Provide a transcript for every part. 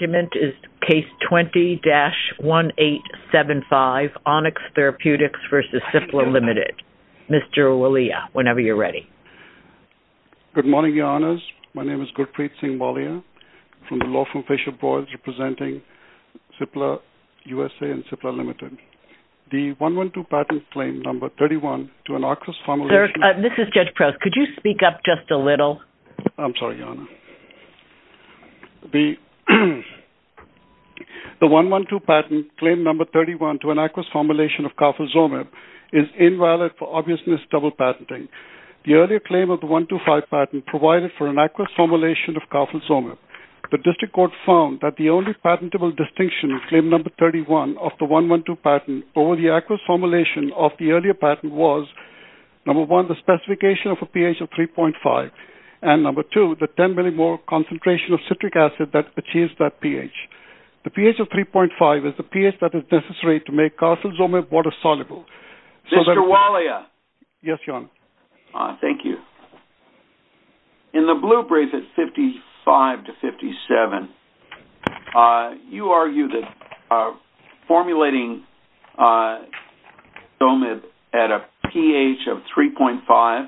Case 20-1875, Onyx Therapeutics v. CIPLA Limited Mr. Walia, whenever you're ready. Good morning, Your Honors. My name is Gurpreet Singh Walia from the law firm Fisher Broads representing CIPLA USA and CIPLA Limited. The 112 patent claim number 31 to an ARCIS formulation Mr. Judge Proce, could you speak up just a little? I'm sorry, Your Honor. The 112 patent claim number 31 to an ARCIS formulation of carfilzomib is invalid for obvious misdouble patenting. The earlier claim of the 125 patent provided for an ARCIS formulation of carfilzomib. The district court found that the only patentable distinction in claim number 31 of the 112 patent over the ARCIS formulation of the earlier patent was number one, the specification of a pH of 3.5 and number two, the 10 millimole concentration of citric acid that achieves that pH. The pH of 3.5 is the pH that is necessary to make carfilzomib water-soluble. Mr. Walia. Yes, Your Honor. Thank you. In the blue brief at 55 to 57, you argue that formulating carfilzomib at a pH of 3.5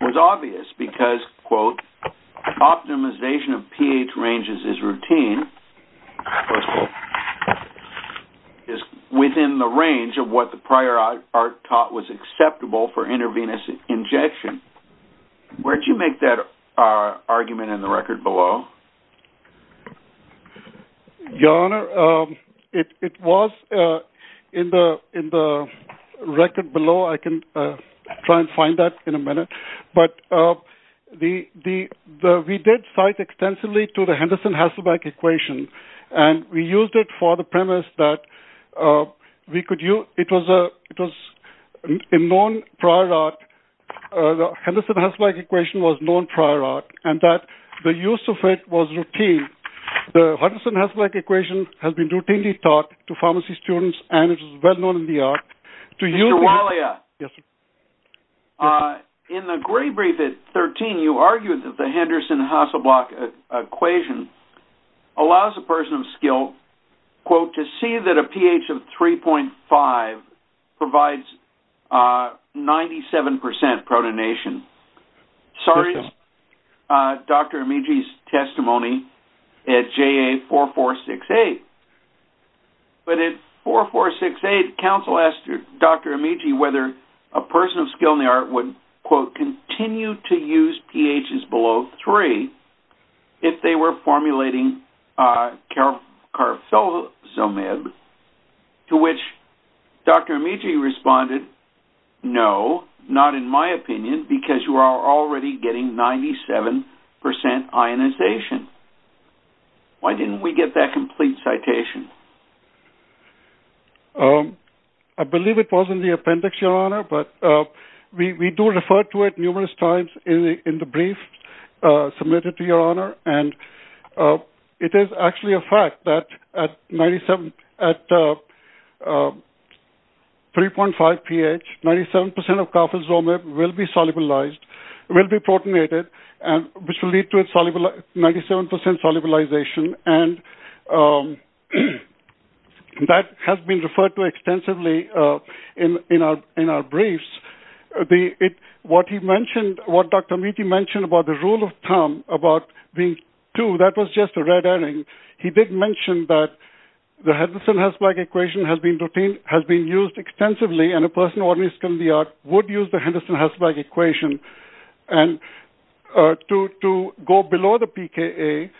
was obvious because, quote, optimization of pH ranges is routine, is within the range of what the prior ARC taught was acceptable for intravenous injection. Where do you make that argument in the record below? Your Honor, it was in the record below. I can try and find that in a minute. But we did cite extensively to the Henderson-Hasselbalch equation and we used it for the premise that it was a known prior ARC. The Henderson-Hasselbalch equation was known prior ARC and that the use of it was routine. The Henderson-Hasselbalch equation has been routinely taught to pharmacy students and it is well known in the ARC. Mr. Walia. Yes, sir. In the gray brief at 13, you argue that the Henderson-Hasselbalch equation allows a person of skill, quote, to see that a pH of 3.5 provides 97% protonation. Sorry, Dr. Amici's testimony at JA4468. But at 4468, counsel asked Dr. Amici whether a person of skill in the ARC would, quote, continue to use pHs below 3 if they were formulating carfilzomib, to which Dr. Amici responded, no, not in my opinion, because you are already getting 97% ionization. Why didn't we get that complete citation? I believe it was in the appendix, Your Honor, but we do refer to it numerous times in the brief submitted to Your Honor, and it is actually a fact that at 97, at 3.5 pH, 97% of carfilzomib will be solubilized, will be protonated, which will lead to 97% solubilization, and that has been referred to extensively in our briefs. What he mentioned, what Dr. Amici mentioned about the rule of thumb about being two, that was just a red herring. He did mention that the Henderson-Hasselbalch equation has been used extensively, and a person of skill in the ARC would use the Henderson-Hasselbalch equation to go below the pKa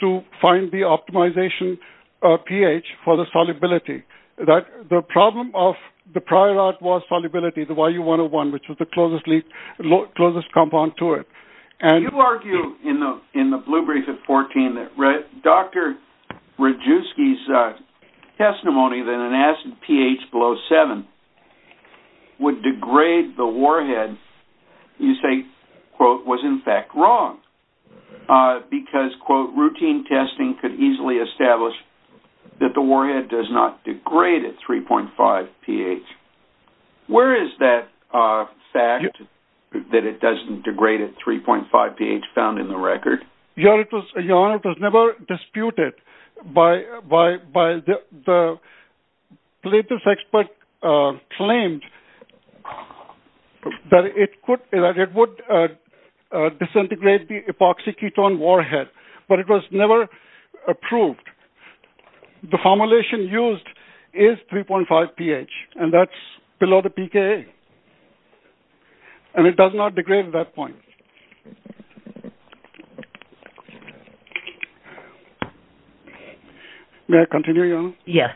to find the optimization pH for the solubility. The problem of the prior ARC was solubility, the YU-101, which was the closest compound to it. You argue in the blue brief at 14 that Dr. Radjuski's testimony that an acid pH below 7 would degrade the warhead, you say, quote, was in fact wrong, because, quote, routine testing could easily establish that the warhead does not degrade at 3.5 pH. Where is that fact that it doesn't degrade at 3.5 pH found in the record? Your Honor, it was never disputed. The latest expert claimed that it would disintegrate the epoxy ketone warhead, but it was never approved. The formulation used is 3.5 pH, and that's below the pKa, and it does not degrade at that point. May I continue, Your Honor? Yes.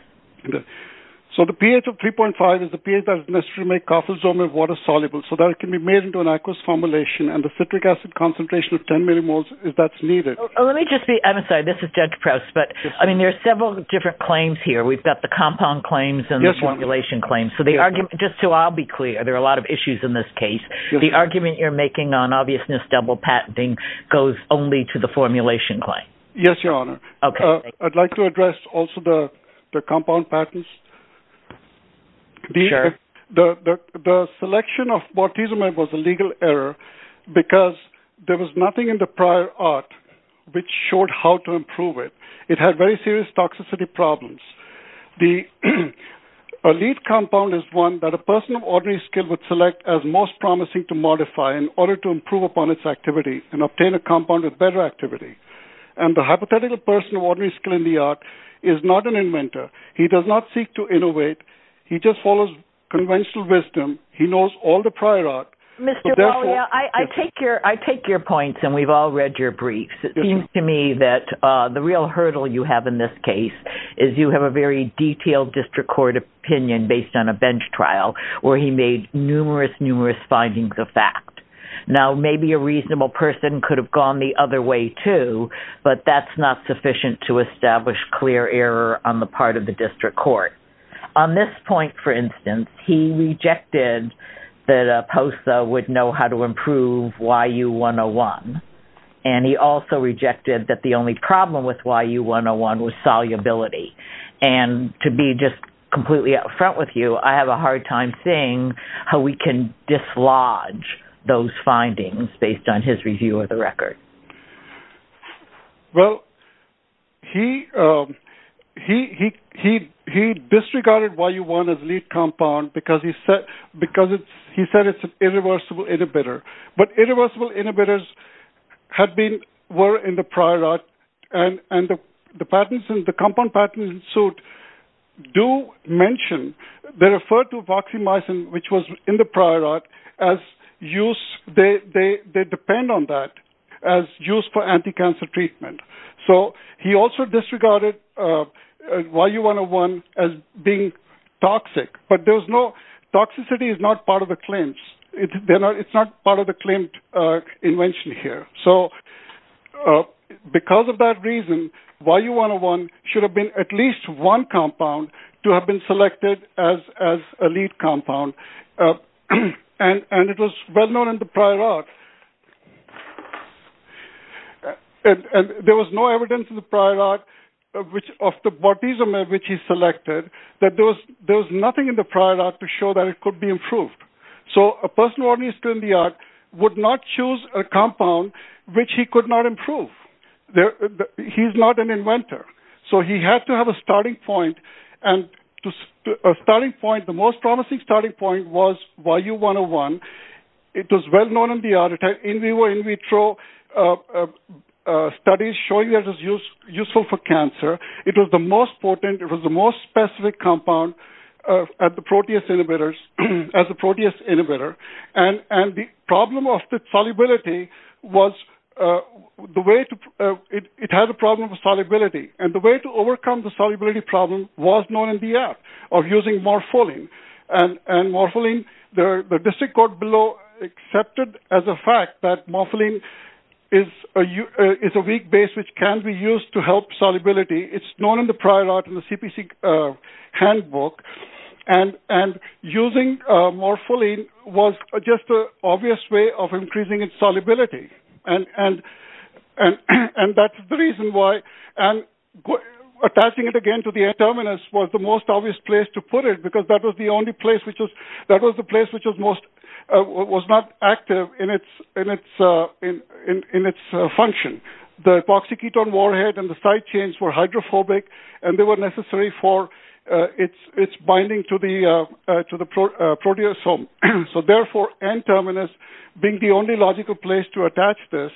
So the pH of 3.5 is the pH that is necessary to make carfilzomib water soluble so that it can be made into an aqueous formulation, and the citric acid concentration of 10 millimoles, if that's needed. Let me just be, I'm sorry, this is Judge Prowse, but, I mean, there are several different claims here. We've got the compound claims and the formulation claims. So the argument, just so I'll be clear, there are a lot of issues in this case. The argument you're making on obviousness double patenting goes only to the formulation claim. Yes, Your Honor. I'd like to address also the compound patents. Sure. The selection of bortezomib was a legal error because there was nothing in the prior art which showed how to improve it. It had very serious toxicity problems. The elite compound is one that a person of ordinary skill would select as most promising to modify in order to improve upon its activity and obtain a compound with better activity. And the hypothetical person of ordinary skill in the art is not an inventor. He does not seek to innovate. He just follows conventional wisdom. He knows all the prior art. Mr. Wallia, I take your points, and we've all read your briefs. It seems to me that the real hurdle you have in this case is you have a very detailed district court opinion based on a bench trial where he made numerous, numerous findings of fact. Now, maybe a reasonable person could have gone the other way too, but that's not sufficient to establish clear error on the part of the district court. On this point, for instance, he rejected that POSA would know how to improve YU-101, and he also rejected that the only problem with YU-101 was solubility. And to be just completely up front with you, I have a hard time seeing how we can dislodge those findings based on his review of the record. Well, he disregarded YU-101 as a lead compound because he said it's an irreversible inhibitor. But irreversible inhibitors were in the prior art, and the compound patterns ensued do mention, they refer to voxamycin, which was in the prior art, as use. They depend on that as use for anti-cancer treatment. So he also disregarded YU-101 as being toxic. But toxicity is not part of the claims. It's not part of the claimed invention here. So because of that reason, YU-101 should have been at least one compound to have been selected as a lead compound. And it was well known in the prior art. There was no evidence in the prior art of the bortezomib which he selected that there was nothing in the prior art to show that it could be improved. So a personal organist in the art would not choose a compound which he could not improve. He's not an inventor. So he had to have a starting point. And a starting point, the most promising starting point was YU-101. It was well known in the art. It was in vitro studies showing that it was useful for cancer. It was the most potent. It was the most specific compound at the protease inhibitors, as a protease inhibitor. And the problem of the solubility was the way to – it had a problem with solubility. And the way to overcome the solubility problem was known in the art of using morpholine. And morpholine, the district court below accepted as a fact that morpholine is a weak base which can be used to help solubility. It's known in the prior art in the CPC handbook. And using morpholine was just an obvious way of increasing its solubility. And that's the reason why attaching it again to the N-terminus was the most obvious place to put it because that was the only place which was not active in its function. The epoxy ketone warhead and the side chains were hydrophobic and they were necessary for its binding to the proteasome. So, therefore, N-terminus being the only logical place to attach this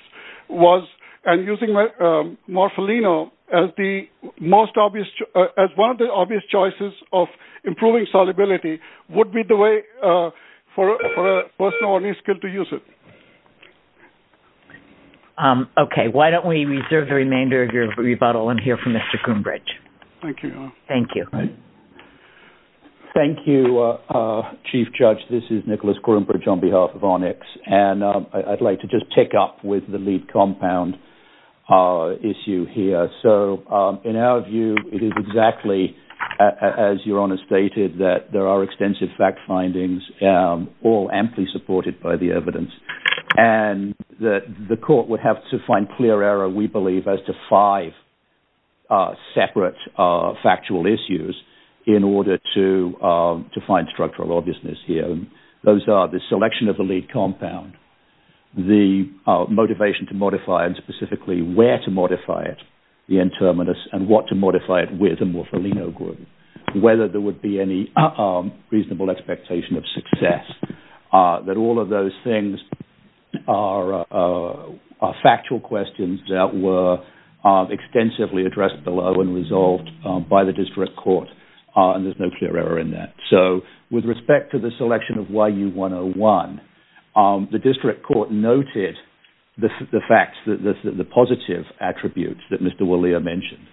and using morpholino as one of the obvious choices of improving solubility would be the way for a person of any skill to use it. Okay. Why don't we reserve the remainder of your rebuttal and hear from Mr. Coombridge. Thank you. Thank you. Thank you, Chief Judge. This is Nicholas Coombridge on behalf of ONIX. And I'd like to just take up with the lead compound issue here. So, in our view, it is exactly as Your Honor stated that there are extensive fact findings all amply supported by the evidence. And the court would have to find clear error, we believe, as to five separate factual issues in order to find structural obviousness here. Those are the selection of the lead compound, the motivation to modify and specifically where to modify it, the N-terminus, and what to modify it with a morpholino group, whether there would be any reasonable expectation of success, that all of those things are factual questions that were extensively addressed below and resolved by the district court, and there's no clear error in that. So, with respect to the selection of YU-101, the district court noted the facts, the positive attributes that Mr. Willier mentioned,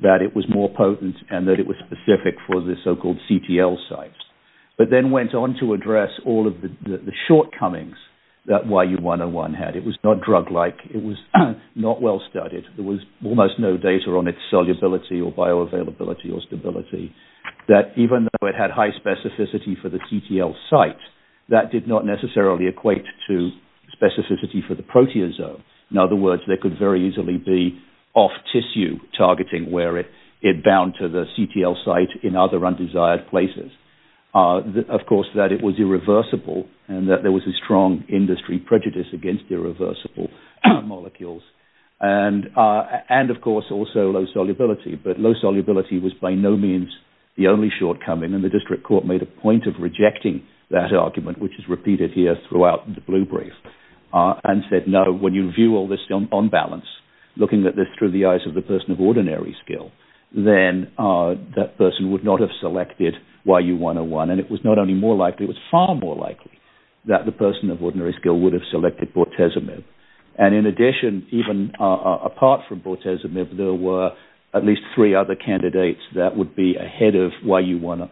that it was more potent and that it was specific for the so-called CTL sites, but then went on to address all of the shortcomings that YU-101 had. It was not drug-like. It was not well-studied. There was almost no data on its solubility or bioavailability or stability, that even though it had high specificity for the CTL site, that did not necessarily equate to specificity for the proteasome. In other words, there could very easily be off-tissue targeting where it bound to the CTL site in other undesired places. Of course, that it was irreversible and that there was a strong industry prejudice against irreversible molecules. And, of course, also low solubility, but low solubility was by no means the only shortcoming, and the district court made a point of rejecting that argument, which is repeated here throughout the blue brief, and said, no, when you view all this on balance, looking at this through the eyes of the person of ordinary skill, then that person would not have selected YU-101, and it was not only more likely, it was far more likely that the person of ordinary skill would have selected bortezomib. And, in addition, even apart from bortezomib, there were at least three other candidates that would be ahead of YU-101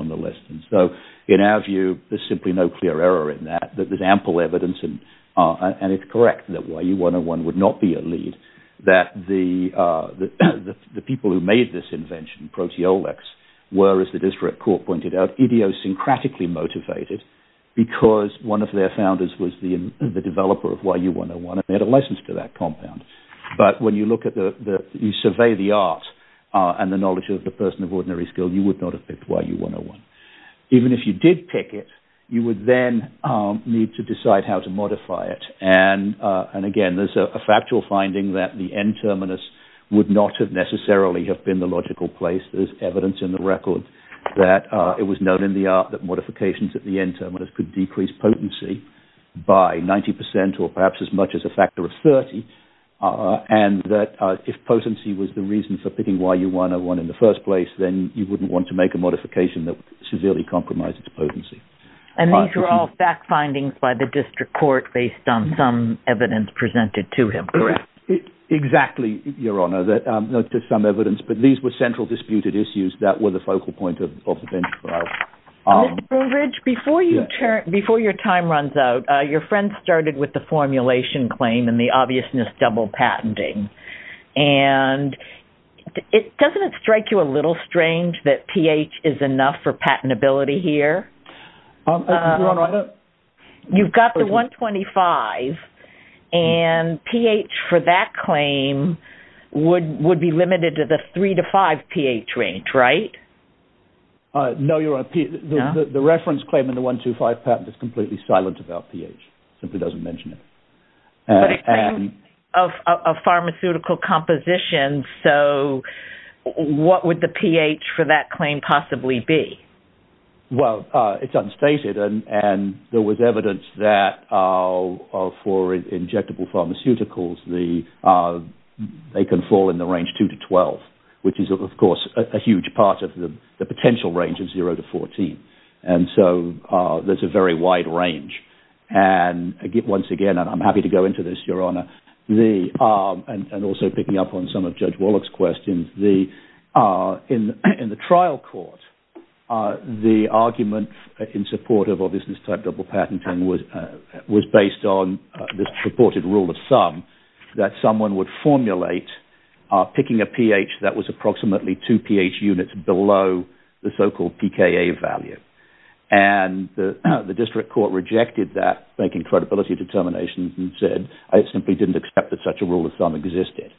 on the list. So, in our view, there's simply no clear error in that. There's ample evidence, and it's correct that YU-101 would not be a lead, that the people who made this invention, proteolics, were, as the district court pointed out, idiosyncratically motivated because one of their founders was the developer of YU-101, and they had a license to that compound. But when you look at the, you survey the art, and the knowledge of the person of ordinary skill, you would not have picked YU-101. Even if you did pick it, you would then need to decide how to modify it. And, again, there's a factual finding that the N-terminus would not have necessarily have been the logical place. There's evidence in the record that it was known in the art that modifications at the N-terminus could decrease potency by 90% or perhaps as much as a factor of 30, and that if potency was the reason for picking YU-101 in the first place, then you wouldn't want to make a modification that would severely compromise its potency. And these are all fact findings by the district court based on some evidence presented to him, correct? Exactly, Your Honor. There's some evidence, but these were central disputed issues that were the focal point of the bench trial. Mr. Brugge, before your time runs out, your friend started with the formulation claim and the obviousness double patenting. And doesn't it strike you a little strange that pH is enough for patentability here? Your Honor, I don't... You've got the 125, and pH for that claim would be limited to the 3-5 pH range, right? No, Your Honor. The reference claim in the 125 patent is completely silent about pH. It simply doesn't mention it. But it's a claim of pharmaceutical composition, so what would the pH for that claim possibly be? Well, it's unstated, and there was evidence that for injectable pharmaceuticals, they can fall in the range 2-12, which is, of course, a huge part of the potential range of 0-14. And so there's a very wide range. And once again, and I'm happy to go into this, Your Honor, and also picking up on some of Judge Wallach's questions, in the trial court, the argument in support of obviousness type double patenting was based on this purported rule of sum that someone would formulate picking a pH that was approximately 2 pH units below the so-called pKa value. And the district court rejected that, making credibility determinations, and said, I simply didn't accept that such a rule of sum existed.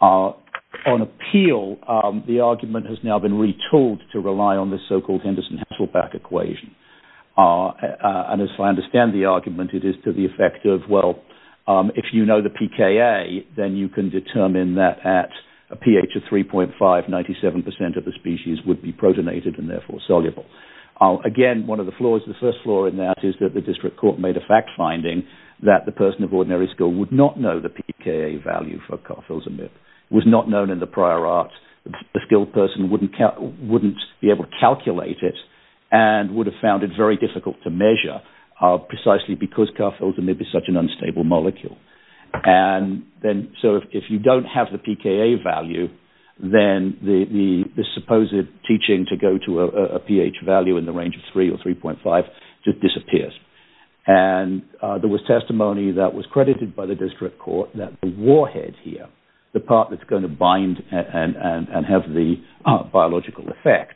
On appeal, the argument has now been retooled to rely on the so-called Henderson-Hesselbach equation. And as far as I understand the argument, it is to the effect of, well, if you know the pKa, then you can determine that at a pH of 3.5, 97% of the species would be protonated and therefore soluble. Again, one of the flaws, the first flaw in that is that the district court made a fact finding that the person of ordinary skill would not know the pKa value for carfilzomib. It was not known in the prior art. The skilled person wouldn't be able to calculate it and would have found it very difficult to measure precisely because carfilzomib is such an unstable molecule. And so if you don't have the pKa value, then the supposed teaching to go to a pH value in the range of 3 or 3.5 just disappears. And there was testimony that was credited by the district court that the warhead here, the part that's going to bind and have the biological effect,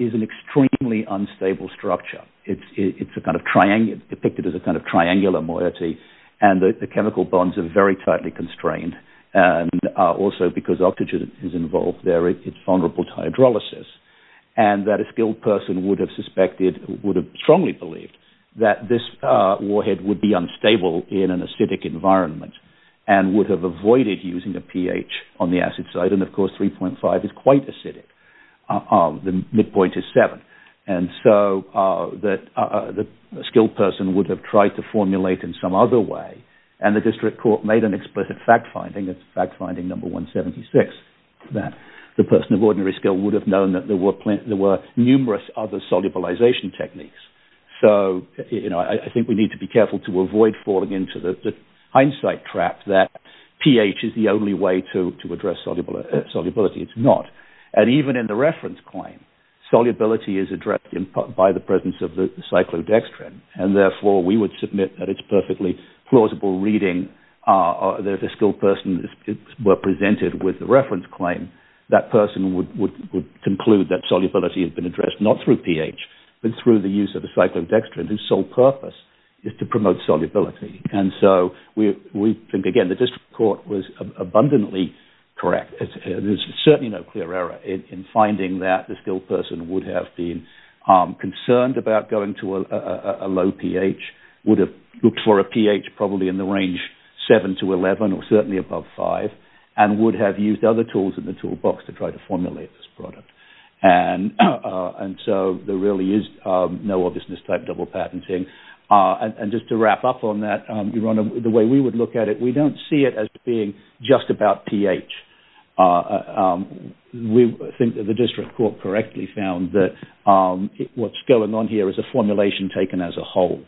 is an extremely unstable structure. It's depicted as a kind of triangular moiety and the chemical bonds are very tightly constrained and also because oxygen is involved there, it's vulnerable to hydrolysis. And that a skilled person would have strongly believed that this warhead would be unstable in an acidic environment and would have avoided using a pH on the acid side. And of course, 3.5 is quite acidic. The midpoint is 7. And so the skilled person would have tried to formulate in some other way and the district court made an explicit fact finding, it's fact finding number 176, that the person of ordinary skill would have known that there were numerous other solubilization techniques. So, you know, I think we need to be careful to avoid falling into the hindsight trap that pH is the only way to address solubility. It's not. And even in the reference claim, solubility is addressed by the presence of the cyclodextrin and therefore we would submit that it's perfectly plausible reading that if a skilled person were presented with the reference claim, that person would conclude that solubility had been addressed not through pH, but through the use of the cyclodextrin whose sole purpose is to promote solubility. And so we think, again, the district court was abundantly correct. There's certainly no clear error in finding that the skilled person would have been concerned about going to a low pH, would have looked for a pH probably in the range 7 to 11 or certainly above 5, and would have used other tools in the toolbox to try to formulate this product. And so there really is no obviousness type double patenting. And just to wrap up on that, the way we would look at it, we don't see it as being just about pH. We think that the district court correctly found that what's going on here is a formulation taken as a whole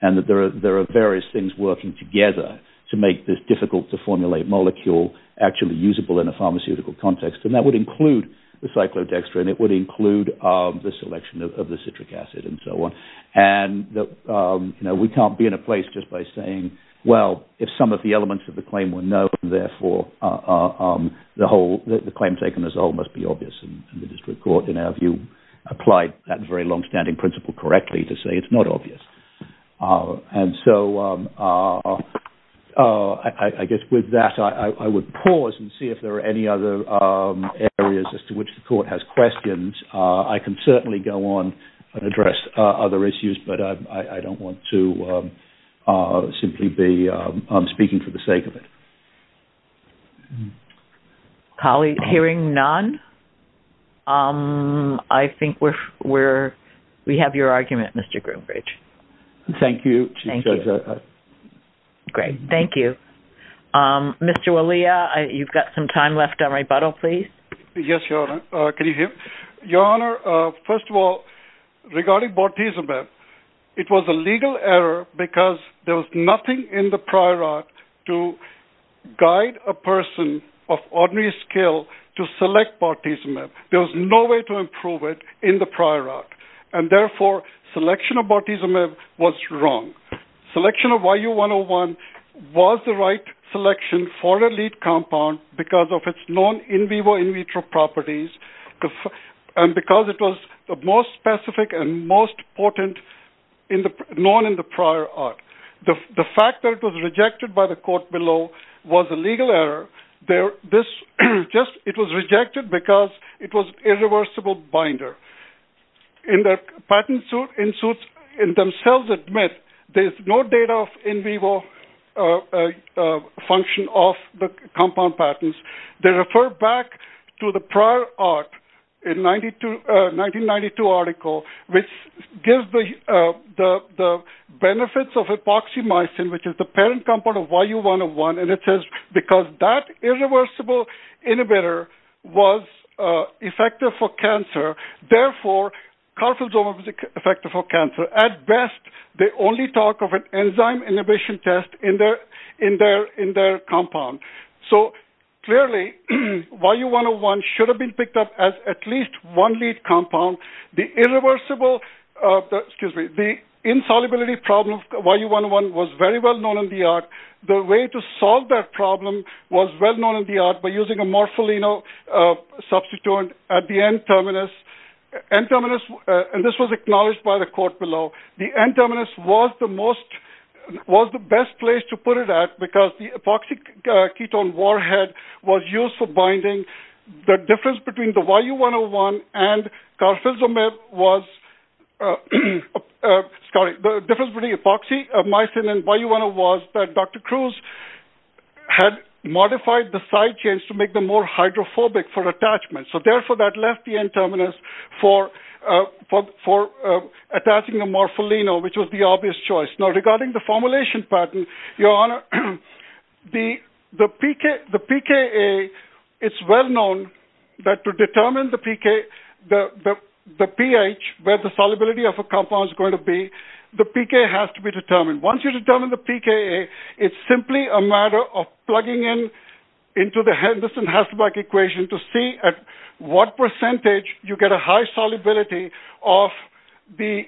and that there are various things working together to make this difficult-to-formulate molecule actually usable in a pharmaceutical context. And that would include the cyclodextrin. It would include the selection of the citric acid and so on. And we can't be in a place just by saying, well, if some of the elements of the claim were known, therefore the claim taken as a whole must be obvious. And the district court, in our view, applied that very long-standing principle correctly to say it's not obvious. And so I guess with that, I would pause and see if there are any other areas as to which the court has questions. I can certainly go on and address other issues, but I don't want to simply be speaking for the sake of it. Hearing none, I think we have your argument, Mr. Groombridge. Thank you. Great. Thank you. Mr. Walia, you've got some time left on rebuttal, please. Yes, Your Honor. Can you hear? Your Honor, first of all, regarding bortezomib, it was a legal error because there was nothing in the prior act to guide a person of ordinary skill to select bortezomib. There was no way to improve it in the prior act, and therefore selection of bortezomib was wrong. Selection of YU-101 was the right selection for a lead compound because of its non-in vivo in vitro properties and because it was the most specific and most potent known in the prior act. The fact that it was rejected by the court below was a legal error. It was rejected because it was an irreversible binder. In the patent suit, the suits themselves admit there is no data of in vivo function of the compound patents. They refer back to the prior act, a 1992 article, which gives the benefits of hypoxomycin, which is the parent compound of YU-101, and it says because that irreversible inhibitor was effective for cancer, therefore carfilzomib was effective for cancer. At best, they only talk of an enzyme inhibition test in their compound. Clearly, YU-101 should have been picked up as at least one lead compound. The insolubility problem of YU-101 was very well known in the art. The way to solve that problem was well known in the art by using a morpholino substituent at the N-terminus. This was acknowledged by the court below. The N-terminus was the best place to put it at because the hypoxic ketone warhead was used for binding. The difference between the YU-101 and carfilzomib was the difference between hypoxomycin and YU-101 was that Dr. Cruz had modified the side chains to make them more hydrophobic for attachment. Therefore, that left the N-terminus for attaching a morpholino, which was the obvious choice. Regarding the formulation pattern, the pKa is well known that to determine the pH, where the solubility of a compound is going to be, the pKa has to be determined. Once you determine the pKa, it's simply a matter of plugging into the Henderson-Hasselbalch equation to see at what percentage you get a high solubility of the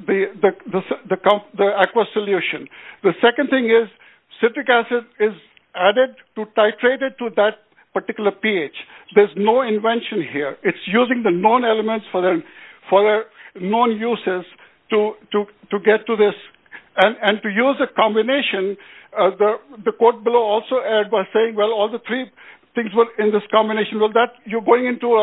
aqueous solution. The second thing is citric acid is added to titrate it to that particular pH. There's no invention here. It's using the known elements for their known uses to get to this. And to use a combination, the quote below also adds by saying, well, all the three things in this combination, you're going into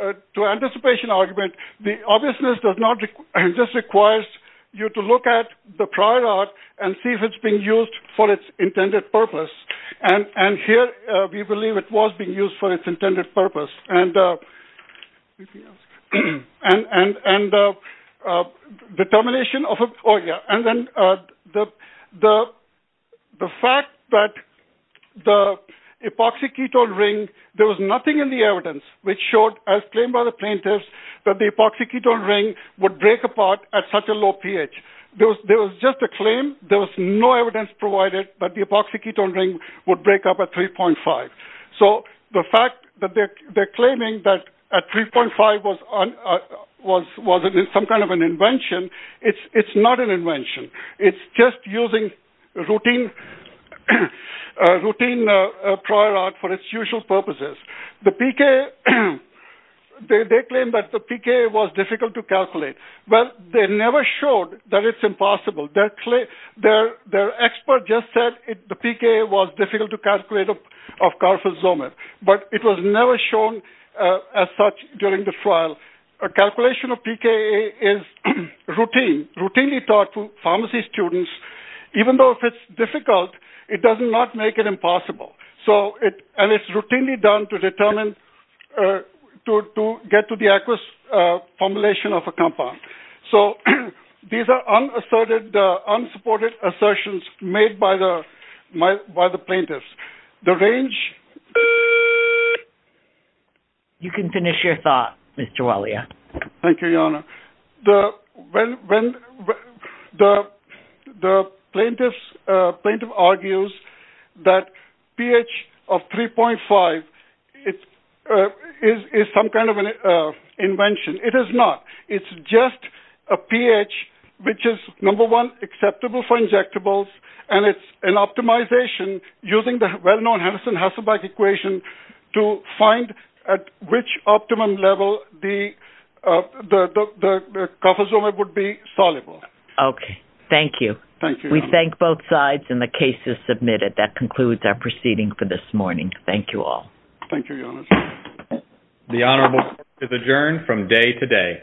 an anticipation argument. The obviousness just requires you to look at the prior art and see if it's being used for its intended purpose. And here, we believe it was being used for its intended purpose. And the fact that the epoxy ketone ring, there was nothing in the evidence which showed, as claimed by the plaintiffs, that the epoxy ketone ring would break apart at such a low pH. There was just a claim. There was no evidence provided that the epoxy ketone ring would break up at 3.5. So the fact that they're claiming that at 3.5 was some kind of an invention, it's not an invention. It's just using routine prior art for its usual purposes. The PKA, they claim that the PKA was difficult to calculate. Well, they never showed that it's impossible. Their expert just said the PKA was difficult to calculate of carfilzomib, but it was never shown as such during the trial. A calculation of PKA is routine, routinely taught to pharmacy students, even though if it's difficult, it does not make it impossible. And it's routinely done to get to the aqueous formulation of a compound. So these are unsupported assertions made by the plaintiffs. The range... You can finish your thought, Mr. Walia. Thank you, Your Honor. The plaintiff argues that pH of 3.5 is some kind of an invention. It is not. It's just a pH which is, number one, acceptable for injectables, and it's an optimization using the well-known Henderson-Hasselbalch equation to find at which optimum level the carfilzomib would be soluble. Okay. Thank you. Thank you, Your Honor. We thank both sides, and the case is submitted. That concludes our proceeding for this morning. Thank you all. Thank you, Your Honor. The honorable court is adjourned from day to day.